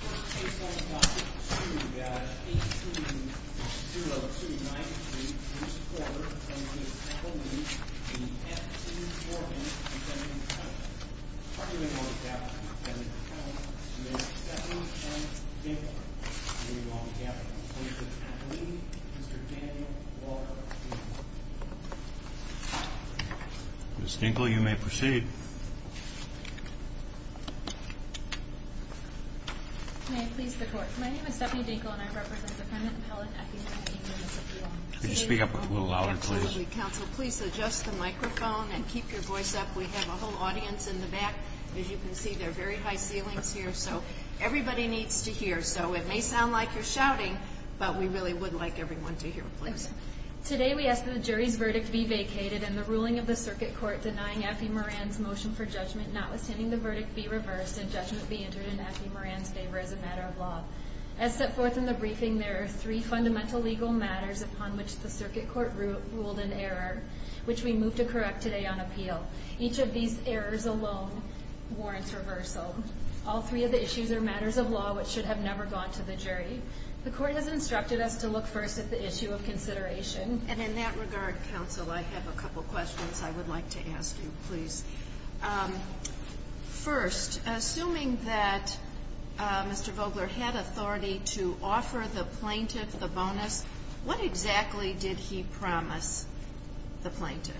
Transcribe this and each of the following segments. Work case number 1-3-2-Ga 8 21029 May I please the court. My name is Stephanie Dinkle and I represent the Permanent Appellant at the F.E. Moran Municipal Lawn. Could you speak up a little louder, please? Absolutely. Counsel, please adjust the microphone and keep your voice up. We have a whole audience in the back. As you can see, there are very high ceilings here. So, everybody needs to hear. So, it may sound like you're shouting, but we really would like everyone to hear. Today, we ask that the jury's verdict be vacated and the ruling of the circuit court denying F.E. Moran's motion for judgment, notwithstanding the verdict, be reversed and judgment be entered in F.E. Moran's favor as a matter of law. As set forth in the briefing, there are three fundamental legal matters upon which the circuit court ruled an error, which we move to correct today on appeal. Each of these errors alone warrants reversal. All three of the issues are matters of law which should have never gone to the jury. The court has instructed us to look first at the issue of consideration. And in that regard, counsel, I have a couple questions I would like to ask you, please. First, assuming that Mr. Vogler had authority to offer the plaintiff the bonus, what exactly did he promise the plaintiff?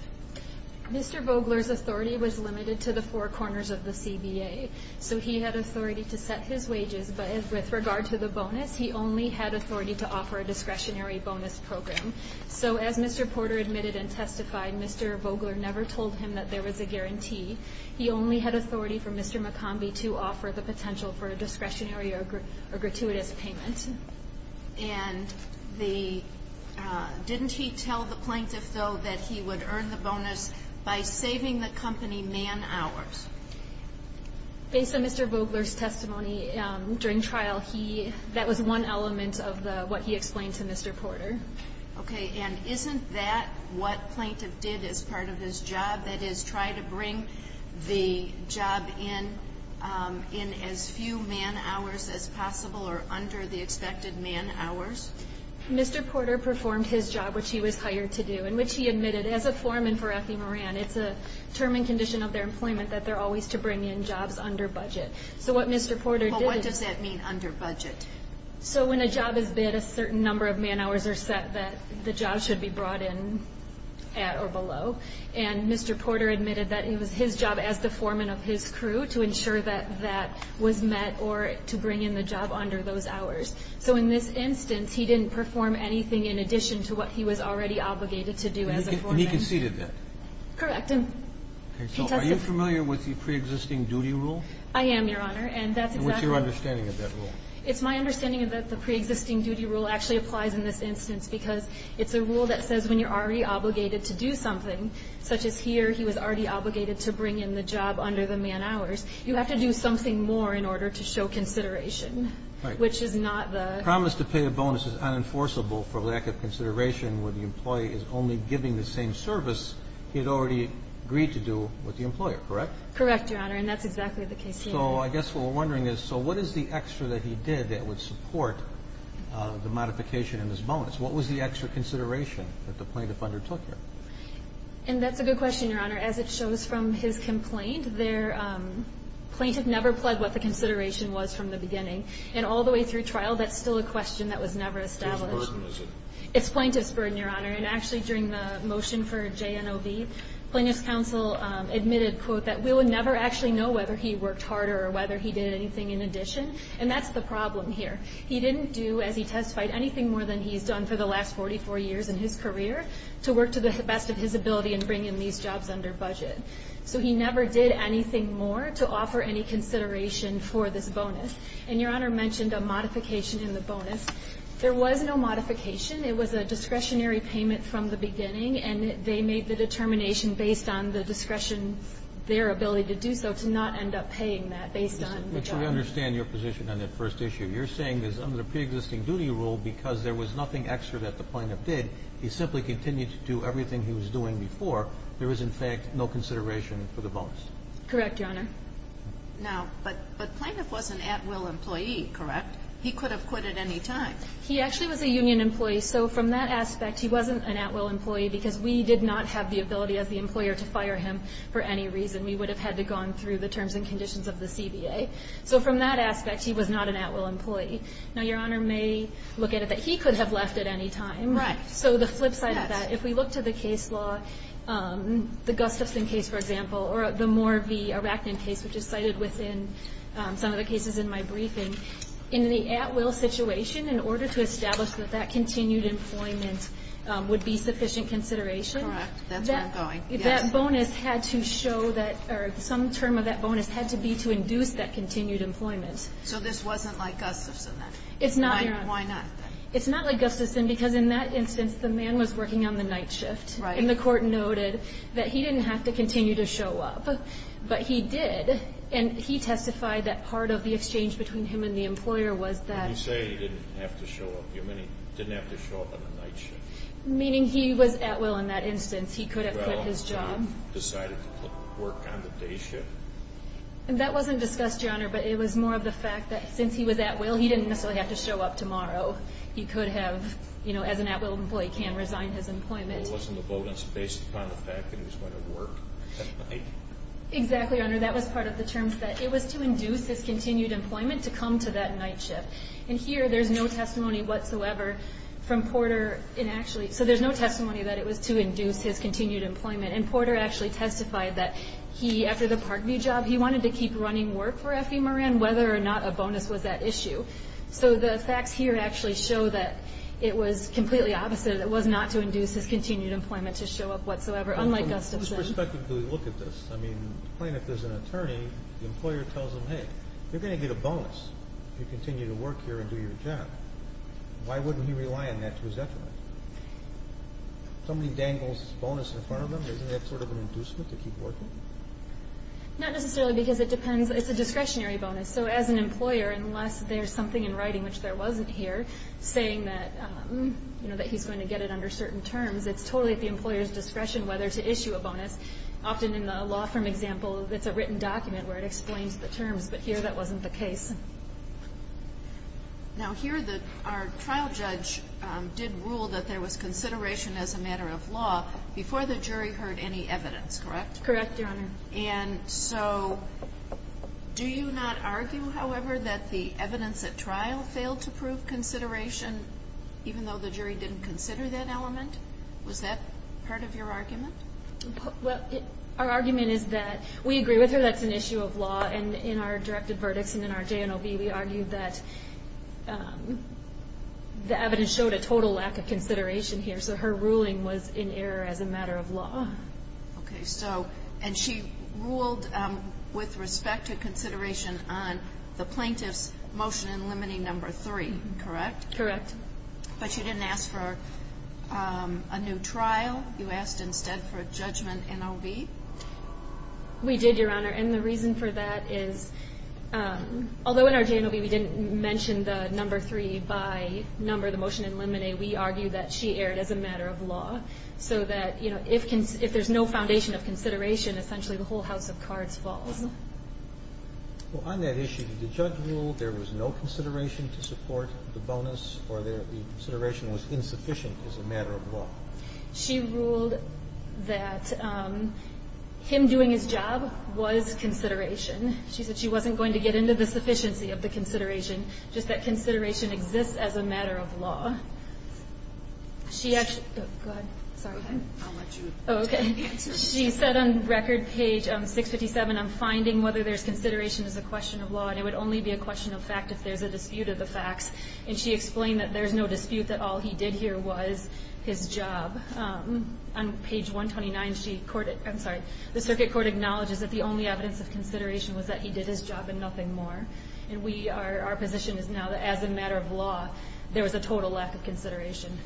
Mr. Vogler's authority was limited to the four corners of the CBA. So, he had authority to set his wages, but with regard to the bonus, he only had authority to offer a discretionary bonus program. So, as Mr. Porter admitted and testified, Mr. Vogler never told him that there was a guarantee. He only had authority for Mr. McCombie to offer the potential for a discretionary or gratuitous payment. And the, didn't he tell the plaintiff, though, that he would earn the bonus by saving the company man hours? Based on Mr. Vogler's testimony during trial, he, that was one element of the, what he explained to Mr. Porter. Okay. And isn't that what plaintiff did as part of his job? That is, try to bring the job in, in as few man hours as possible or under the expected man hours? Mr. Porter performed his job, which he was hired to do, in which he admitted as a foreman for Effie Moran, it's a term and condition of their employment that they're always to bring in jobs under budget. So, what Mr. Porter did... Well, what does that mean, under budget? So, when a job is bid, a certain number of man hours are set that the job should be brought in at or below. And Mr. Porter admitted that it was his job as the foreman of his crew to ensure that that was met or to bring in the job under those hours. So, in this instance, he didn't perform anything in addition to what he was already obligated to do as a foreman. And he conceded that? Correct. Are you familiar with the pre-existing duty rule? I am, Your Honor. And what's your understanding of that rule? It's my understanding that the pre-existing duty rule actually applies in this instance because it's a rule that says when you're already obligated to do something, such as here, he was already obligated to bring in the job under the man hours, you have to do something more in order to show consideration, which is not the... The promise to pay a bonus is unenforceable for lack of consideration when the employee is only giving the same service he had already agreed to do with the employer, correct? Correct, Your Honor. And that's exactly the case here. So, I guess what we're wondering is, so what is the extra that he did that would support the modification in his bonus? What was the extra consideration that the plaintiff undertook here? And that's a good question, Your Honor. As it shows from his complaint, plaintiff never pled what the consideration was from the beginning. And all the way through trial, that's still a question that was never established. Whose burden is it? It's plaintiff's burden, Your Honor. And actually, during the motion for JNOB, plaintiff's counsel admitted, quote, that we would never actually know whether he worked harder or whether he did anything in addition. And that's the problem here. He didn't do, as he testified, anything more than he's done for the last 44 years in his career to work to the best of his ability in bringing these jobs under budget. So he never did anything more to offer any consideration for this bonus. And Your Honor mentioned a modification in the bonus. There was no modification. It was a discretionary payment from the beginning. And they made the determination based on the discretion, their ability to do so, to not end up paying that based on the job. But you understand your position on that first issue. You're saying that under the preexisting duty rule, because there was nothing extra that the plaintiff did, he simply continued to do everything he was doing before, there was, in fact, no consideration for the bonus. Correct, Your Honor. Now, but plaintiff was an at-will employee, correct? He could have quit at any time. He actually was a union employee. So from that aspect, he wasn't an at-will employee because we did not have the ability as the employer to fire him for any reason. We would have had to have gone through the terms and conditions of the CBA. So from that aspect, he was not an at-will employee. Now, Your Honor may look at it that he could have left at any time. Right. So the flip side of that, if we look to the case law, the Gustafson case, for example, or the Morvey-Arachnin case, which is cited within some of the cases in my briefing, in the at-will situation, in order to establish that that continued employment would be sufficient consideration, Correct. That's where I'm going. that bonus had to show that or some term of that bonus had to be to induce that continued employment. So this wasn't like Gustafson then? It's not, Your Honor. Why not? It's not like Gustafson because in that instance, the man was working on the night shift. Right. And the court noted that he didn't have to continue to show up, but he did. And he testified that part of the exchange between him and the employer was that When you say he didn't have to show up, you mean he didn't have to show up on the night shift? Meaning he was at-will in that instance. He could have quit his job. Well, he decided to work on the day shift? That wasn't discussed, Your Honor, but it was more of the fact that since he was at-will, he didn't necessarily have to show up tomorrow. He could have, as an at-will employee, can resign his employment. It wasn't a bonus based upon the fact that he was going to work at night? Exactly, Your Honor. That was part of the terms. It was to induce his continued employment to come to that night shift. And here, there's no testimony whatsoever from Porter. So there's no testimony that it was to induce his continued employment. And Porter actually testified that he, after the Parkview job, he wanted to keep running work for F.E. Moran, whether or not a bonus was that issue. So the facts here actually show that it was completely opposite. It was not to induce his continued employment to show up whatsoever, unlike Gustafson. From whose perspective do we look at this? I mean, plain if there's an attorney, the employer tells him, hey, you're going to get a bonus if you continue to work here and do your job. Why wouldn't he rely on that to his effort? If somebody dangles his bonus in front of him, isn't that sort of an inducement to keep working? Not necessarily, because it depends. It's a discretionary bonus. So as an employer, unless there's something in writing which there wasn't here saying that, you know, that he's going to get it under certain terms, it's totally at the employer's discretion whether to issue a bonus. Often in the law firm example, it's a written document where it explains the terms, but here that wasn't the case. Now here our trial judge did rule that there was consideration as a matter of law before the jury heard any evidence, correct? Correct, Your Honor. And so do you not argue, however, that the evidence at trial failed to prove consideration even though the jury didn't consider that element? Was that part of your argument? Well, our argument is that we agree with her that's an issue of law and in our directed verdicts and in our JNOB, we argued that the evidence showed a total lack of consideration here. So her ruling was in error as a matter of law. Okay, so, and she ruled with respect to consideration on the plaintiff's motion in Limine No. 3, correct? Correct. But you didn't ask for a new trial? You asked instead for a judgment in OB? We did, Your Honor. And the reason for that is although in our JNOB we didn't mention the No. 3 by number of the motion in Limine, we argued that she erred as a matter of law. So that, you know, if there's no foundation of consideration, essentially the whole house of cards falls. Well, on that issue, the judge ruled there was no consideration to support the bonus or the consideration was insufficient as a matter of law. She ruled that him doing his job was consideration. She said she wasn't going to get into the sufficiency of the consideration, just that consideration exists as a matter of law. She actually, oh, go ahead. Sorry. She said on record page 657, I'm finding whether there's consideration as a question of law, and it would only be a question of fact if there's a dispute of the facts. And she explained that there's no dispute that all he did here was his job. On page 129, she, I'm sorry, the circuit court acknowledges that the only evidence of consideration was that he did his job and nothing more. And we are, our position is now that as a matter of law, there was a total lack of consideration.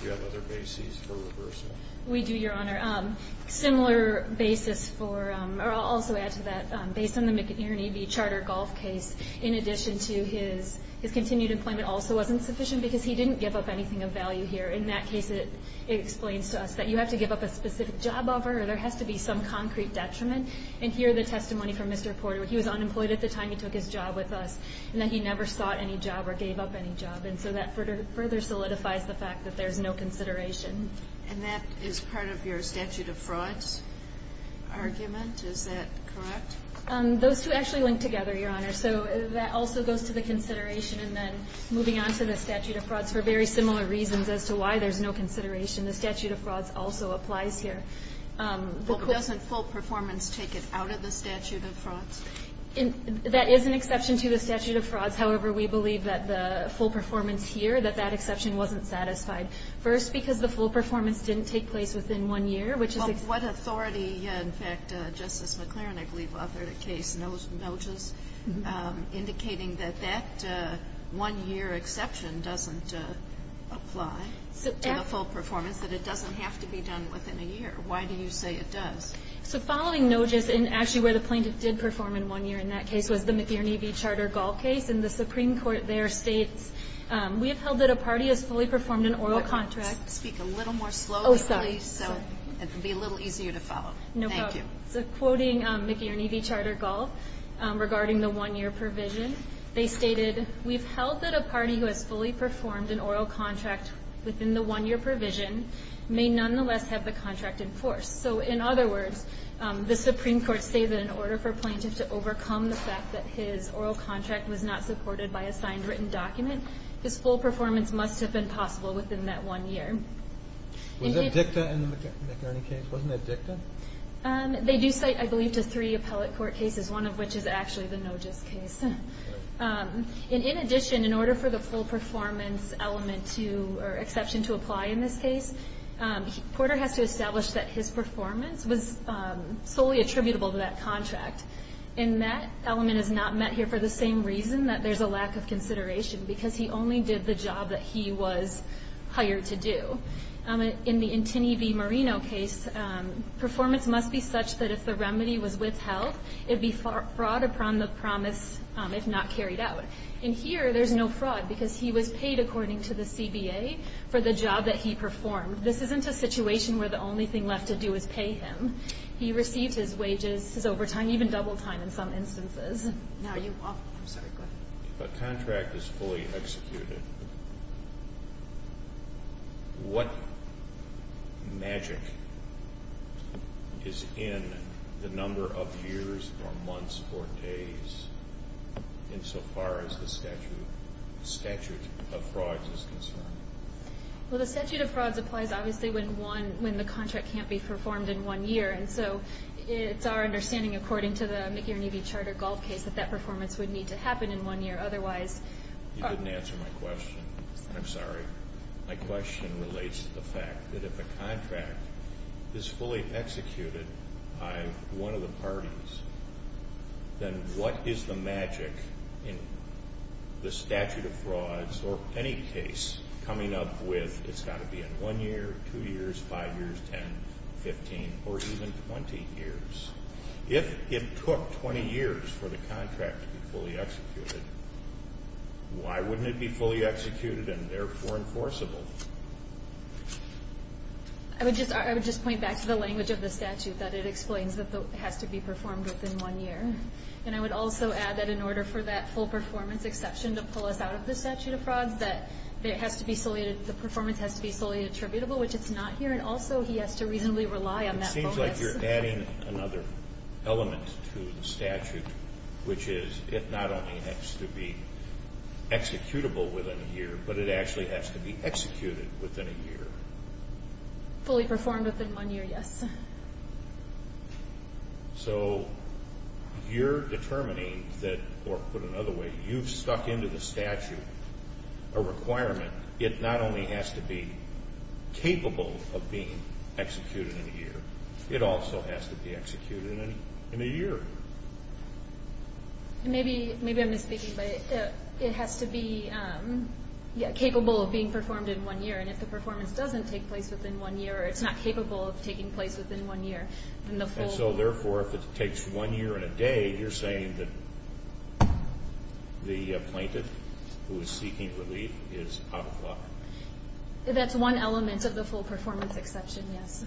Do you have other bases for reversal? We do, Your Honor. Similar basis for, or I'll also add to that, based on the McInerney v. Charter golf case, in addition to his continued employment also wasn't sufficient because he didn't give up anything of value here. In that case, it explains to us that you have to give up a specific job offer or there has to be some concrete detriment. he was unemployed at the time he took his job and he didn't give up anything of value. And so that further solidifies the fact that there's no consideration. And that is part of your statute of frauds argument? Is that correct? Those two actually link together, Your Honor. So that also goes to the consideration and then moving on to the statute of frauds for very similar reasons as to why there's no consideration. The statute of frauds also applies here. Well, doesn't full performance take it out of the statute of frauds? That is an exception. That is an exception to the statute of frauds. However, we believe that the full performance here, that that exception wasn't satisfied. First, because the full performance didn't take place within one year, which is What authority, in fact, Justice McLaren, I believe, authored a case, Noges, indicating that that one-year exception doesn't apply to the full performance, that it doesn't have to be done within a year. Why do you say it does? So following Noges, and actually where the E.V. Charter-Gall case, in the Supreme Court there states, We have held that a party has fully performed an oral contract. Speak a little more slowly, please. Oh, sorry. Sorry. It will be a little easier to follow. No problem. Thank you. So quoting McGee and E.V. Charter-Gall regarding the one-year provision, they stated, We've held that a party who has fully performed an oral contract within the one-year provision may nonetheless have the contract enforced. So in other words, the Supreme Court states that in order for the oral contract was not supported by a signed written document, his full performance must have been possible within that one year. Was that dicta in the McNerney case? Wasn't that dicta? They do cite, I believe, to three appellate court cases, one of which is actually the Noges case. In addition, in order for the full performance element to or exception to apply in this case, Porter has to establish that his performance was solely attributable to that contract. And that element is not met here for the same reason, that there's a lack of consideration, because he only did the job that he was hired to do. In the Intini v. Marino case, performance must be such that if the remedy was withheld, it'd be fraud upon the promise, if not carried out. And here, there's no fraud because he was paid, according to the CBA, for the job that he performed. This isn't a situation where the only thing left to do is pay him. He received his wages, his overtime, even double time in some instances. Now, you, I'm sorry, go ahead. If a contract is fully executed, what magic is in the number of years or months or days, insofar as the statute of frauds is concerned? Well, the statute of frauds applies, obviously, when one, when the contract can't be performed in one year, and so it's our understanding, according to the McGeer and Eby charter golf case, that that performance would need to happen in one year, otherwise You didn't answer my question. I'm sorry. My question relates to the fact that if a contract is fully executed by one of the parties, then what is the magic in the statute of frauds, or any case, coming up with it's got to be in one year? It does not say that it has to be performed in two years, five years, 10, 15, or even 20 years. If it took 20 years for the contract to be fully executed, why wouldn't it be fully executed and therefore enforceable? I would just point back to the language of the statute, that it explains that it has to be performed within one year. And I would also add that in order for that full performance exception to pull us out of the statute of frauds, that it has to be solely, the performance has to be solely attributable, which it's not here, and also he has to reasonably rely on that bonus. It seems like you're adding another element to the statute, which is, it not only has to be executable within a year, but it actually has to be executed within a year. Fully performed within one year, yes. So, you're determining that, or put another way, you've stuck into the statute a requirement, it not only has to be capable of being executed in a year, it also has to be executed in a year. Maybe I'm mistaking, but it has to be capable of being performed in one year, and if the performance doesn't take place within one year, or it's not capable of taking place within one year, then the full... And so, therefore, if it takes one year and a day, you're saying that the plaintiff who is seeking relief is out of law. That's one element of the full performance exception, yes.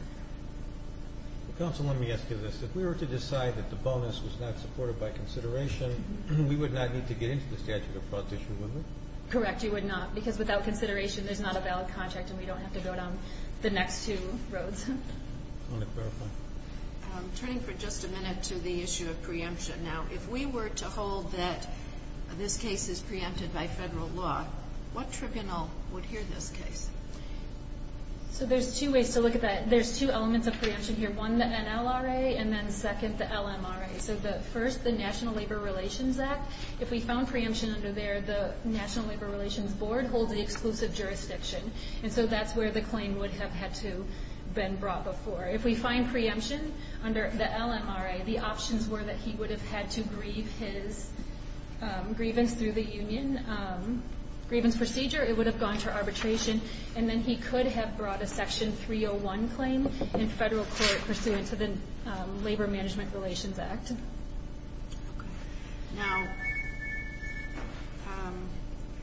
Counsel, let me ask you this. If we were to decide that the bonus was not supported by consideration, we would not need to get into the statute of frauds issue, would we? Correct, you would not, because without consideration, there's not a valid contract, and we don't have to go down the next two roads. Turning for just a minute to the issue of preemption, now, if we were to hold that this case is preempted by federal law, what tribunal would hear this case? So there's two ways to look at that. There's two elements of preemption here. One, the NLRA, and then second, the LMRA. So the first, the National Labor Relations Act, if we found preemption under there, the National Labor Relations Board holds the exclusive jurisdiction, and so that's where the claim would have had to been brought before. If we find preemption under the LMRA, the options were that he would have had to grieve his grievance through the union grievance procedure, it would have gone to arbitration, and then he could have brought a Section 301 claim in federal court pursuant to the Labor Management Relations Act. Now,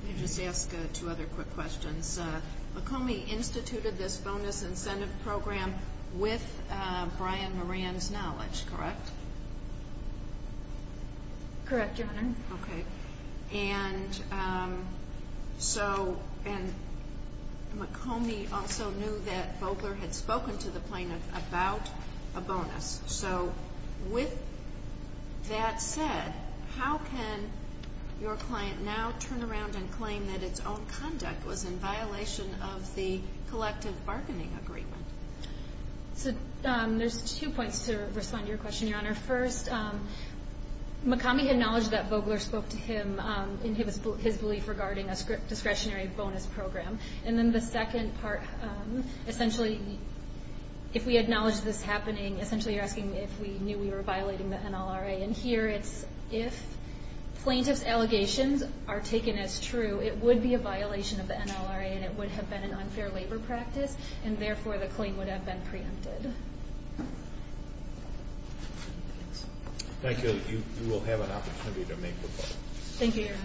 let me just ask two other quick questions. McCombie instituted this bonus incentive program with Brian Moran's knowledge, correct? Correct, Your Honor. Okay. And so, and McCombie also knew that Bogler had spoken to the plaintiff about a bonus. So with that said, how can your client now turn around and claim that its own conduct was in violation of the collective bargaining agreement? So, there's two points to respond to your question, Your Honor. First, McCombie had knowledge that Bogler spoke to him in his belief regarding a discretionary bonus program. And then the second part, essentially, if we acknowledge this happening, essentially you're asking if we knew we were violating the NLRA. And here it's if plaintiff's allegations are taken as true, it would be a violation of the NLRA and it would have been an unfair labor practice and therefore the claim would have been preempted. Thank you. You will have an opportunity to make the vote. Thank you, Your Honor. Thank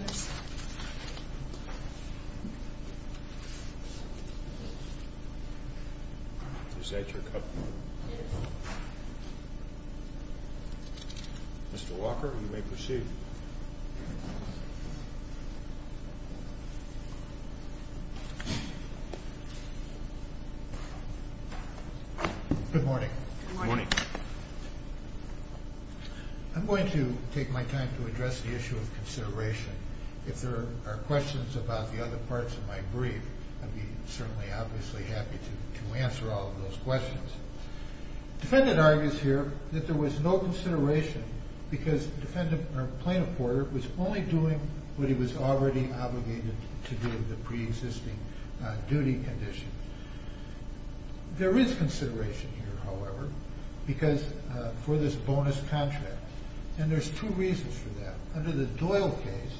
you. Is that your cut? Yes. Mr. Walker, you may proceed. Good morning. Good morning. I'm going to take my time to address the issue of consideration. If there are questions about the other parts of my brief, I'd be certainly obviously happy to answer all of those questions. Defendant argues here that there was no consideration because plaintiff Porter was only doing what he was already obligated to do in the pre-existing duty condition. There is consideration here, however, because for this bonus contract and there's two reasons for that. Under the Doyle case,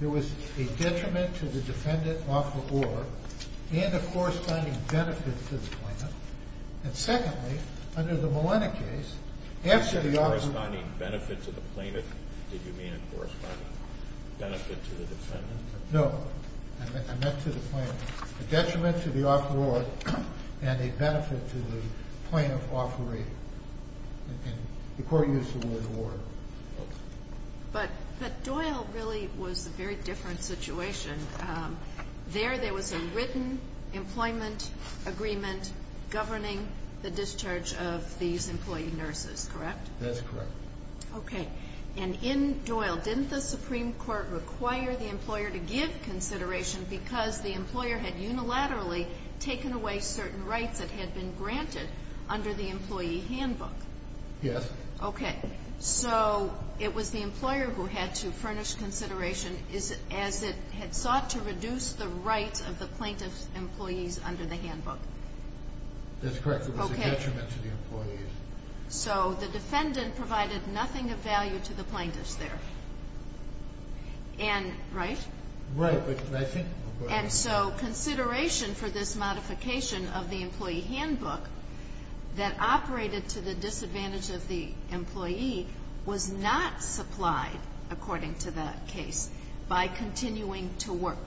there was a detriment to the defendant offeror and a corresponding benefit to the plaintiff. And secondly, under the Molina case, after the offeror... Did you mean a corresponding benefit to the plaintiff? Did you mean a corresponding benefit to the defendant? No. I meant to the plaintiff a detriment to the offeror and a benefit to the plaintiff offeree. The court used the word award. But Doyle really was a very different situation. There, there was a written employment agreement governing the discharge of these employee nurses, correct? That's correct. Okay. And in Doyle, didn't the Supreme Court require the employer to give consideration because the employer had unilaterally taken away certain rights that had been granted under the employee handbook? Yes. Okay. So, it was the employer who had to furnish consideration as it had sought to reduce the rights of the plaintiff's employees under the handbook. That's correct. It was a detriment to the employees. So, the defendant provided nothing of value to the plaintiff's there. And, right? Right, but I think... And so, consideration for this modification of the employee handbook that operated to the disadvantage of the employee was not supplied, according to the case, by continuing to work.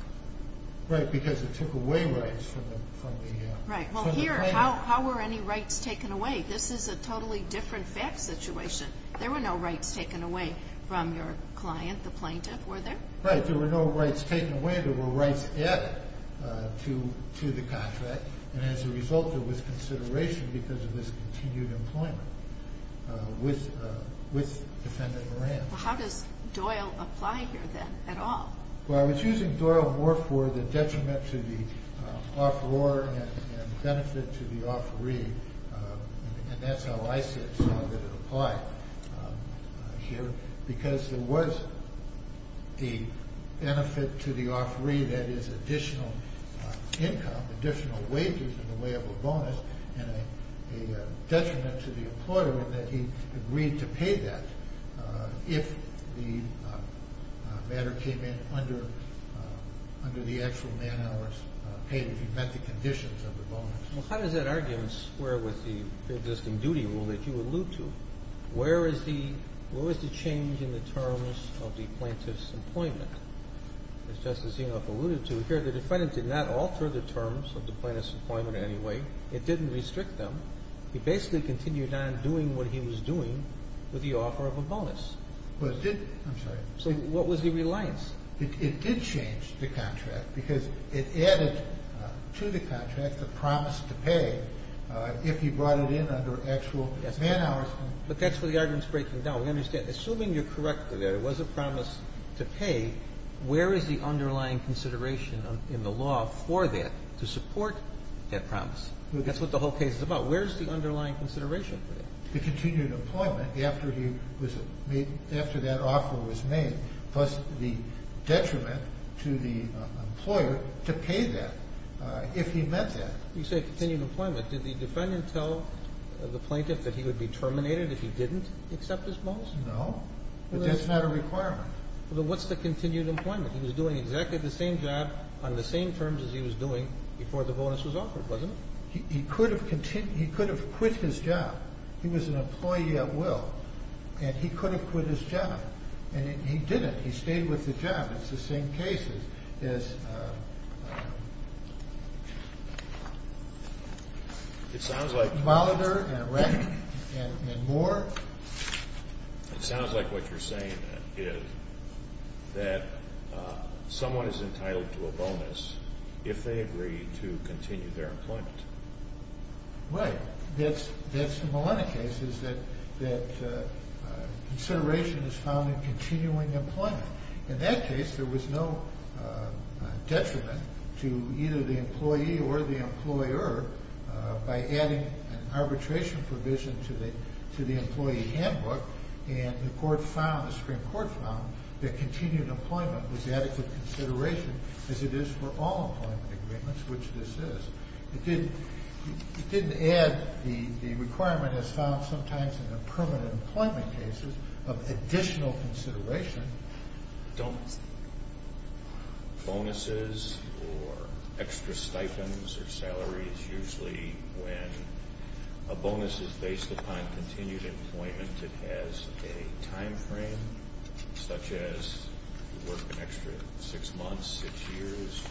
Right, because it took away rights from the plaintiff. Right. Well, here, how were any rights taken away? This is a totally different fact situation. There were no rights taken away from your client, the plaintiff. Were there? Right. There were no rights taken away. There were rights added to the contract. And, as a result, there was consideration because of this continued employment with defendant Moran. Well, how does Doyle apply here, then, at all? Well, I was using Doyle more for the detriment to the offeror and benefit to the offeree, and that's how I saw that it applied here, because there was a benefit to the income, additional wages in the way of a bonus, and a detriment to the employer in that he agreed to pay that if the matter came in under the actual man-hours paid if he met the conditions of the bonus. Well, how does that argument square with the existing duty rule that you allude to? Where is the change in the terms of the plaintiff's employment? As Justice Sotomayor said, it did not alter the terms of the plaintiff's employment in any way. It didn't restrict them. He basically continued on doing what he was doing with the offer of a bonus. I'm sorry. So what was the reliance? It did change the contract because it added to the contract the promise to pay if he brought it in under actual man-hours. But that's where the argument's breaking down. We understand. Assuming you're correct that there was a promise to pay, where is the underlying consideration in the law for that to support that promise? That's what the whole case is about. Where is the underlying consideration for that? The continued employment after he was made, after that offer was made was the detriment to the employer to pay that if he meant that. You say continued employment. Did the defendant tell the plaintiff that he would be terminated if he didn't accept his bonus? No. But that's not a requirement. What's the continued employment? He was doing exactly the same job on the same terms as he was doing before the bonus was offered, wasn't it? He could have quit his job. He was an employee at will. And he could have quit his job. And he didn't. He stayed with the job. It's the same case as Mowder and Reck and Moore. It sounds like what you're saying is that someone is entitled to a bonus if they agree to continue their employment. Right. That's the Malenna case is that consideration is found in continuing employment. In that case, there was no detriment to either the employee or the employer by adding an arbitration provision to the employee handbook. And the Supreme Court found that continued employment was adequate consideration as it is for all employment agreements, which this is. It didn't add the requirement as found sometimes in the permanent employment cases of additional consideration. Don't bonuses or extra stipends or salaries usually when a bonus is based upon continued employment it has a time frame such as work an extra six months six years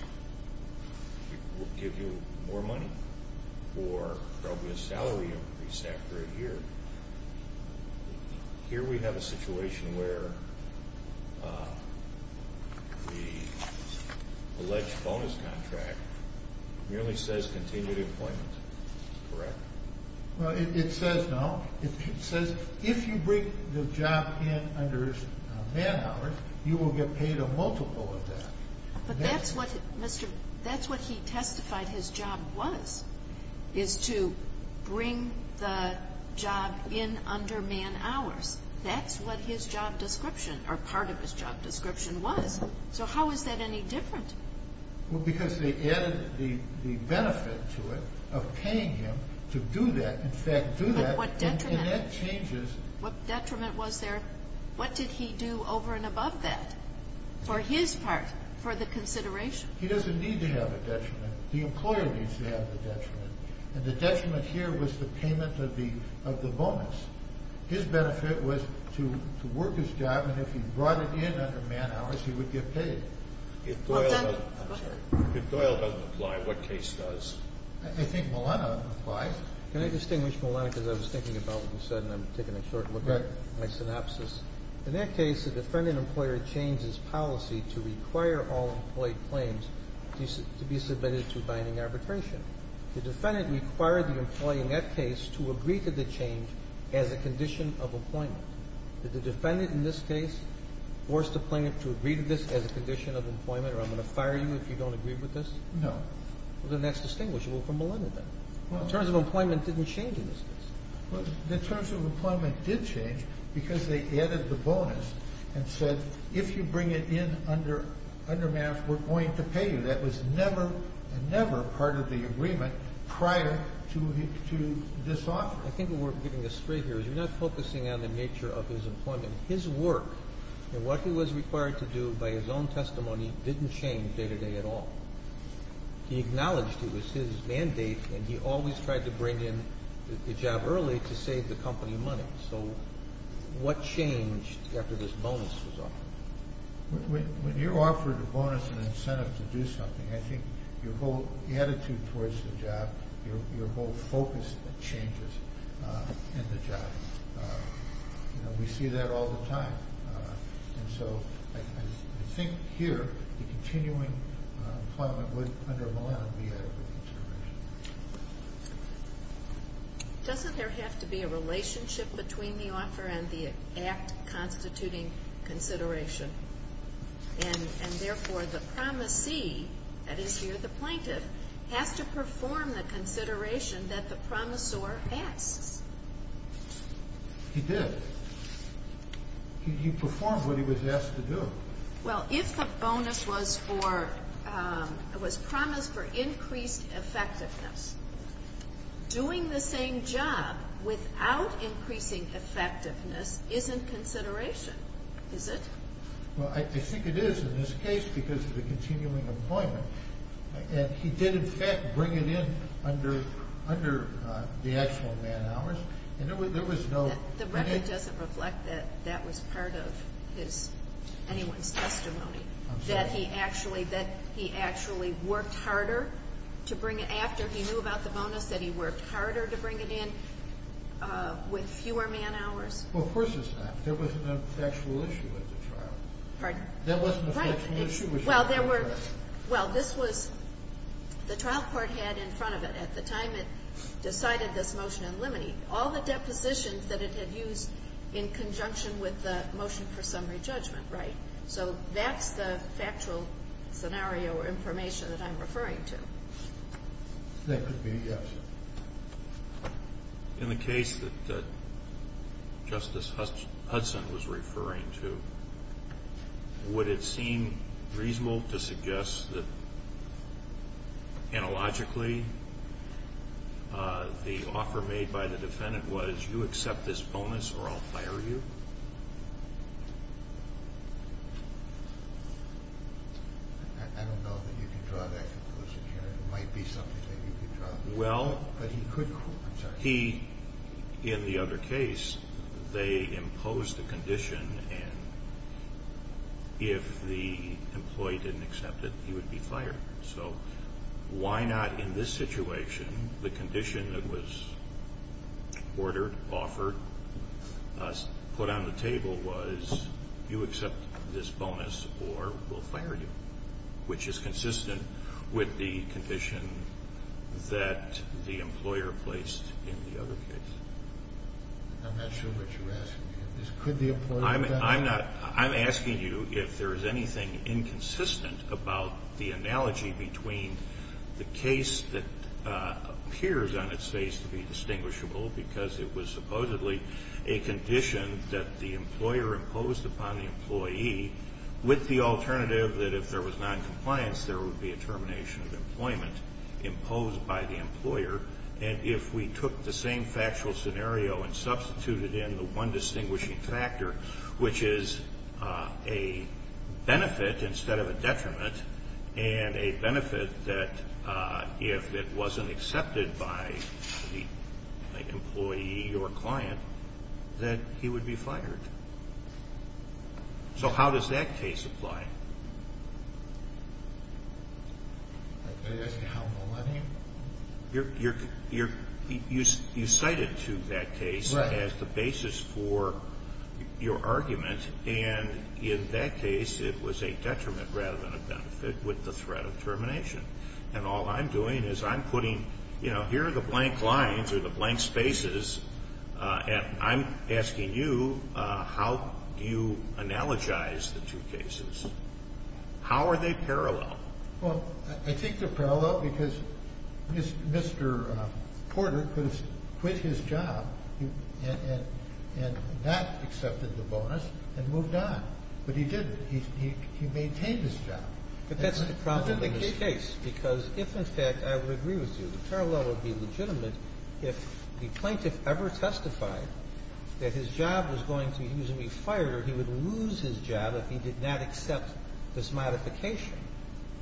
will give you more money or probably a salary increase after a year. Here we have a situation where the alleged bonus contract really says continued employment, correct? It says no. It says if you bring the job in under man hours, you will get paid a multiple of that. But that's what he testified his job was, is to bring the job in under man hours. That's what his job description or part of his job description was. So how is that any different? Well because they added the benefit to it of paying him to do that in fact do that and that changes What detriment was there? What did he do over and above that for his part for the consideration? He doesn't need to have a detriment. The employer needs to have the detriment. And the detriment here was the payment of the bonus. His benefit was to work his job and if he brought it in under man hours he would get paid. If Doyle doesn't apply, what case does? I think Milena applies. Can I distinguish Milena because I was thinking about what you said and I'm taking a short look at my synopsis. In that case, the defendant and employer changed his policy to require all employee claims to be submitted to binding arbitration. The defendant required the employee in that case to agree to the change as a condition of appointment. Did the defendant in this case force the plaintiff to agree to this as a condition of employment or I'm going to fire you if you don't agree with this? No. Then that's distinguishable from Milena then. The terms of employment didn't change in this case. The terms of employment did change because they added the bonus and said if you bring it in under man hours we're going to pay you. That was never, never part of the agreement prior to this offer. I think what we're getting astray here is you're not focusing on the nature of his employment. His work and what he was required to do by his own testimony didn't change day to day at all. He acknowledged it was his mandate and he always tried to bring in the job early to save the company money. So what changed after this bonus was offered? When you're offered a bonus and incentive to do something I think your whole attitude towards the job, your whole focus changes in the job. We see that all the time. And so I think here the continuing employment would under Milena be adequate consideration. Doesn't there have to be a relationship between the offer and the act constituting consideration? And therefore the promisee that is here the plaintiff has to perform the consideration that the promisor asks. He did. He performed what he was asked to do. Well if the bonus was promised for increased effectiveness doing the same job without increasing effectiveness isn't consideration, is it? Well I think it is in this case because of the continuing employment and he did in fact bring it in under the actual man hours and there was no... The record doesn't reflect that that was part of anyone's testimony. I'm sorry. That he actually worked harder to bring it after he knew about the bonus, that he worked harder to bring it in with fewer man hours? Well of course it's not. There wasn't an actual issue with the trial. Pardon? There wasn't an actual issue with the trial. Well there were, well this was the trial court had in front of it at the time it decided this motion unlimited. All the depositions that it had used in conjunction with the motion for summary judgment, right? So that's the factual scenario or information that I'm referring to. That could be, yes. In the case that Justice Hudson was referring to would it seem reasonable to suggest that analogically the offer made by the defendant was you accept this bonus or I'll fire you? I don't know that you can draw that conclusion here. It might be something that you could draw. Well... But he could... He, in the other case they imposed a if the employee didn't accept it he would be fired. So why not in this situation the condition that was ordered offered put on the table was you accept this bonus or we'll fire you. Which is consistent with the condition that the employer placed in the other case. I'm not sure what you're asking. Could the employer... I'm asking you if there's anything inconsistent about the analogy between the case that appears on its face to be distinguishable because it was supposedly a condition that the employer imposed upon the employee with the alternative that if there was noncompliance there would be a termination of employment imposed by the employer. And if we took the same factual scenario and substituted in the one distinguishing factor which is a benefit instead of a detriment and a benefit that if it wasn't accepted by the employee or client that he would be fired. So how does that case apply? Are you asking how millennium? You're... You cited to that case as the basis for your argument and in that case it was a detriment rather than a benefit with the threat of termination. And all I'm doing is I'm putting here are the blank lines or the blank spaces and I'm asking you how do you analogize the two cases? How are they parallel? I think they're parallel because Mr. Porter quit his job and that accepted the bonus and moved on. But he didn't. He maintained his job. But that's the problem in this case because if in fact I would agree with you, the parallel would be legitimate if the plaintiff ever testified that his job was going to usually be fired or he would lose his job if he did not accept this modification.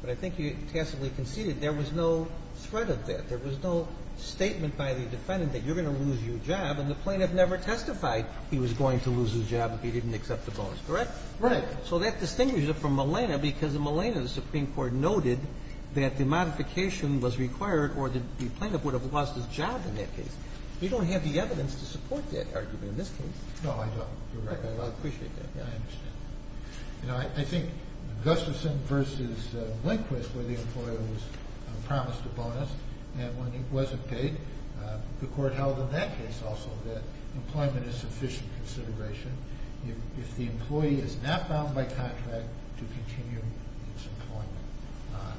But I think you passively conceded there was no threat of that. There was no statement by the defendant that you're going to lose your job and the plaintiff never testified he was going to lose his job if he didn't accept the bonus. Correct? Right. So that distinguishes it from Milena because in Milena the Supreme Court noted that the modification was required or the plaintiff would have lost his job in that case. You don't have the evidence to support that argument in this case. No, I don't. You're right. I appreciate that. I understand. You know, I think Gustafson versus Lindquist where the employer was promised a bonus and when it wasn't paid the court held in that case also that employment is sufficient consideration if the employee is not bound by contract to continue its employment.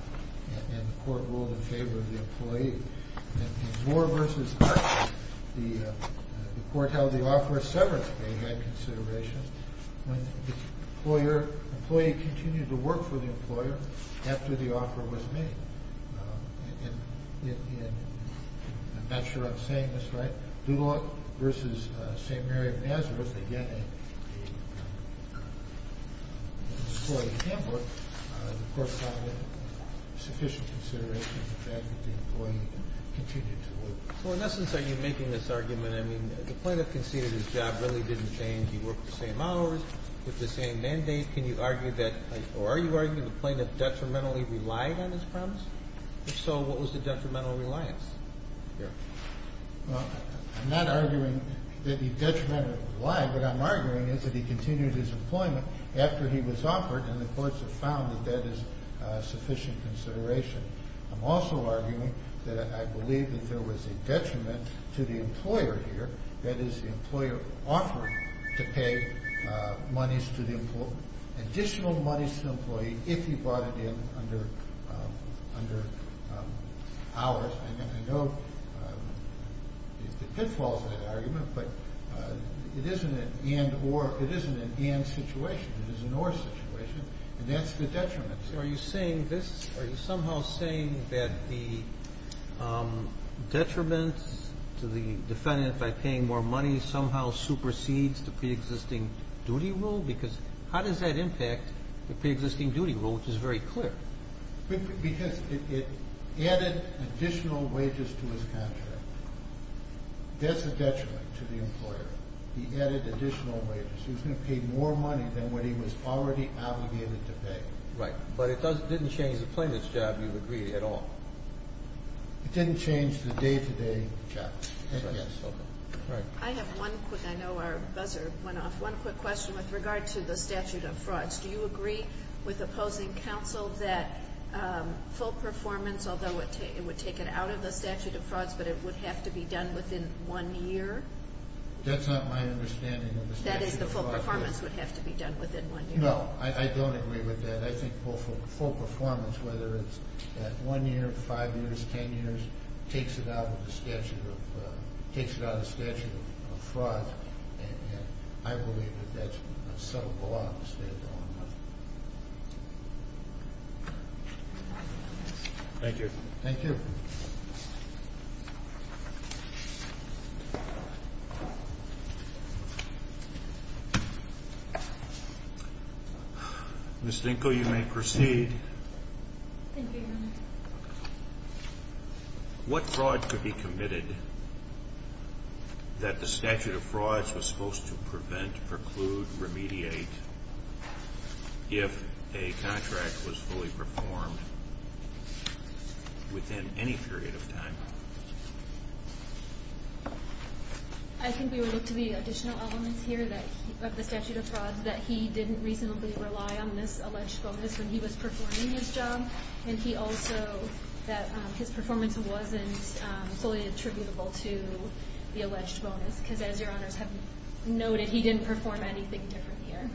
And the court ruled in favor of the employee. In Zor versus the court held the offer of severance pay had consideration when the employer continued to work for the employer after the offer was made. And I'm not sure I'm saying this right. Duloc versus St. Mary of Nazareth again in Hamburg the court found that sufficient consideration for the fact that the employee continued to work. So in essence are you making this argument, I mean, the plaintiff conceded his job really didn't change. He worked the same day. Can you argue that, or are you arguing the plaintiff detrimentally relied on his promise? If so, what was the detrimental reliance here? Well, I'm not arguing that he detrimentally relied. What I'm arguing is that he continued his employment after he was offered and the courts have found that that is sufficient consideration. I'm also arguing that I believe that there was a detriment to the employer here, that is the employer offered to pay additional monies to the additional monies to the employee if he brought it in under under hours. I know the pitfalls of that argument but it isn't an and or, it isn't an and situation. It is an or situation and that's the detriment. So are you saying this, are you somehow saying that the detriment to the defendant by paying more money somehow supersedes the pre-existing duty rule? Because how does that impact the pre-existing duty rule, which is very clear. Because it added additional wages to his contract. That's a detriment to the employer. He added additional wages. He was going to pay more money than what he was already obligated to pay. Right, but it doesn't, didn't change the plaintiff's job, you've agreed, at all. It didn't change the day-to-day job. I have one quick, I know our buzzer went off, one quick question with regard to the statute of frauds. Do you agree with the opposing counsel that full performance, although it would take it out of the statute of frauds, but it would have to be done within one year? That's not my understanding of the statute of frauds. That is, the full performance would have to be done within one year. No, I don't agree with that. I think full performance, whether it's one year, five years, ten years, takes it out of the statute of takes it out of the statute of frauds, and I believe that that's a subtle blot to stay on. Thank you. Thank you, Your Honor. What fraud could be committed that the statute of frauds was supposed to prevent, preclude, remediate if a contract was fully performed within any period of time? I think we would look to the additional elements here of the statute of frauds, that he didn't reasonably rely on this alleged bonus when he was performing his job, and he also that his performance wasn't fully attributable to the alleged bonus, because as Your Honors have noted, he didn't perform anything different here.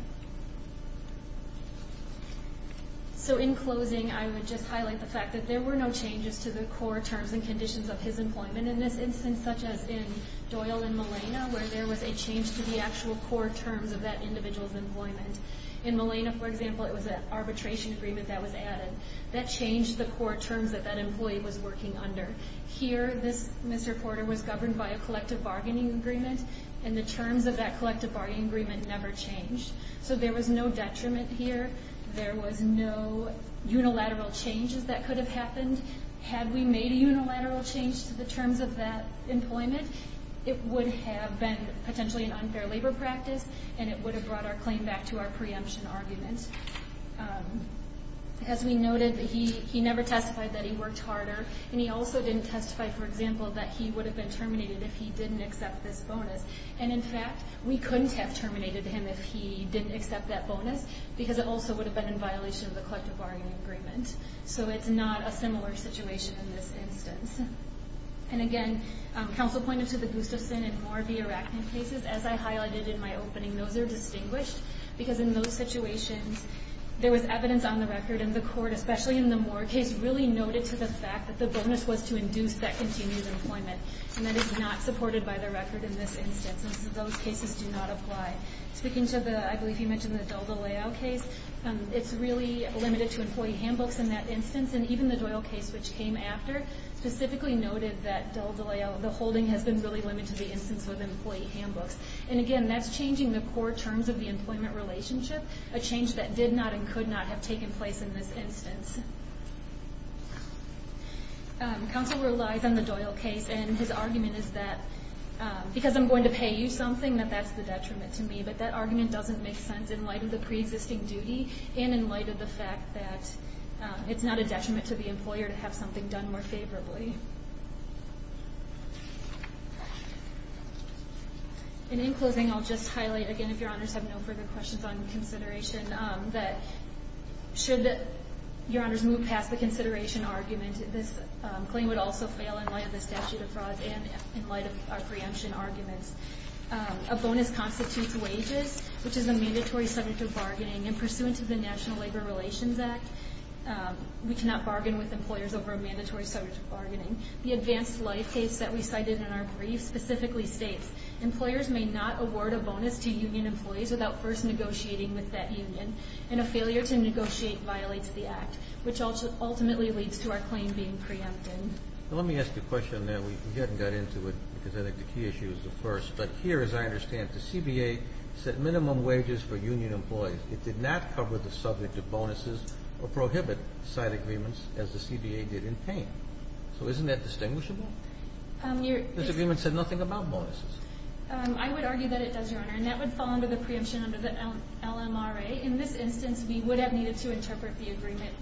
So in closing, I would just highlight the fact that there were no changes to the core terms and conditions of his employment in this instance, such as in Doyle and Molina, where there was a change to the actual core terms of that individual's employment. In Molina, for example, it was an arbitration agreement that was based on the terms that that employee was working under. Here, this misreporter was governed by a collective bargaining agreement, and the terms of that collective bargaining agreement never changed. So there was no detriment here, there was no unilateral changes that could have happened. Had we made a unilateral change to the terms of that employment, it would have been potentially an unfair labor practice, and it would have brought our claim back to our preemption argument. As we noted, he never testified that he worked harder, and he also didn't testify, for example, that he would have been terminated if he didn't accept this bonus. And in fact, we couldn't have terminated him if he didn't accept that bonus, because it also would have been in violation of the collective bargaining agreement. So it's not a similar situation in this instance. And again, counsel pointed to the Gustafson and Moore v. Arachnid cases. As I highlighted in my opening, those are distinguished because in those situations there was evidence on the record, and the court, especially in the Moore case, really noted to the fact that the bonus was to induce that continued employment. And that is not supported by the record in this instance. Those cases do not apply. Speaking to the, I believe you mentioned the Del Deleuille case, it's really limited to employee handbooks in that instance, and even the Doyle case, which came after, specifically noted that the holding has been really limited to the instance with employee handbooks. And again, that's changing the core terms of the employment relationship, a change that did not and could not have taken place in this instance. Counsel relies on the Doyle case, and his argument is that because I'm going to pay you something, that that's the detriment to me. But that argument doesn't make sense in light of the pre-existing duty, and in light of the fact that it's not a detriment to the employer to have something done more favorably. Thank you. And in closing, I'll just highlight again, if your honors have no further questions on consideration, that should your honors move past the consideration argument, this claim would also fail in light of the statute of frauds and in light of our preemption arguments. A bonus constitutes wages, which is a mandatory subject of bargaining, and pursuant to the National Labor Relations Act, we cannot bargain with bargaining. The advanced life case that we cited in our brief specifically states employers may not award a bonus to union employees without first negotiating with that union, and a failure to negotiate violates the act, which ultimately leads to our claim being preempted. Let me ask you a question now, we haven't got into it, because I think the key issue is the first, but here as I understand it, the CBA set minimum wages for union employees. It did not cover the subject of bonuses or prohibit side agreements, as the CBA said. Isn't that distinguishable? This agreement said nothing about bonuses. I would argue that it does, Your Honor, and that would fall under the preemption under the LMRA. In this instance, we would have needed to interpret the agreement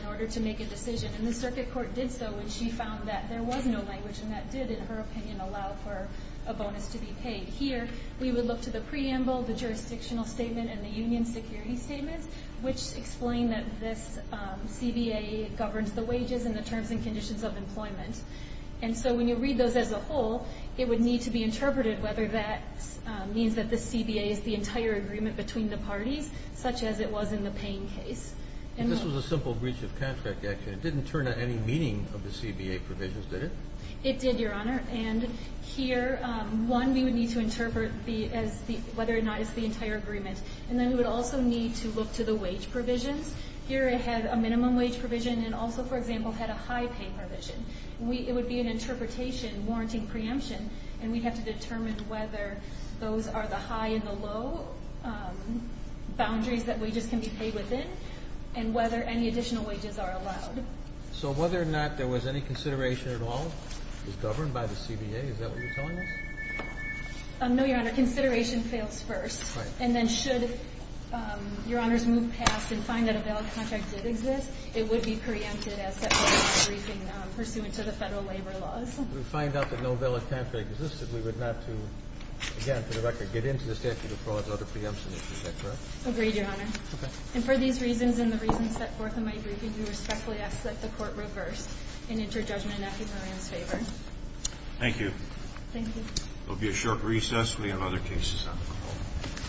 in order to make a decision, and the circuit court did so, and she found that there was no language, and that did, in her opinion, allow for a bonus to be paid. Here, we would look to the preamble, the jurisdictional statement, and the union security statements, which explain that this CBA governs the wages and the terms and conditions of employment. And so when you read those as a whole, it would need to be interpreted whether that means that the CBA is the entire agreement between the parties, such as it was in the Payne case. And this was a simple breach of contract action. It didn't turn to any meaning of the CBA provisions, did it? It did, Your Honor, and here, one, we would need to interpret whether or not it's the entire agreement, and then we would also need to look to the wage provisions. Here it had a minimum wage provision, and also, for example, had a high pay provision. It would be an interpretation, warranting preemption, and we'd have to determine whether those are the high and the low boundaries that wages can be paid within, and whether any additional wages are allowed. So whether or not there was any consideration at all is governed by the CBA? Is that what you're telling us? No, Your Honor. Consideration fails first, and then should Your Honor's move pass and find that a valid contract did exist, it would be preempted as set forth in my briefing, pursuant to the Federal labor laws. If we find out that no valid contract existed, we would not do again, for the record, get into the statute of frauds or the preemption issue. Is that correct? Agreed, Your Honor. Okay. And for these reasons and the reasons set forth in my briefing, we respectfully ask that the Court reverse and enter judgment in Matthew Moran's favor. Thank you. Thank you. There will be a short recess. We have other cases on the call.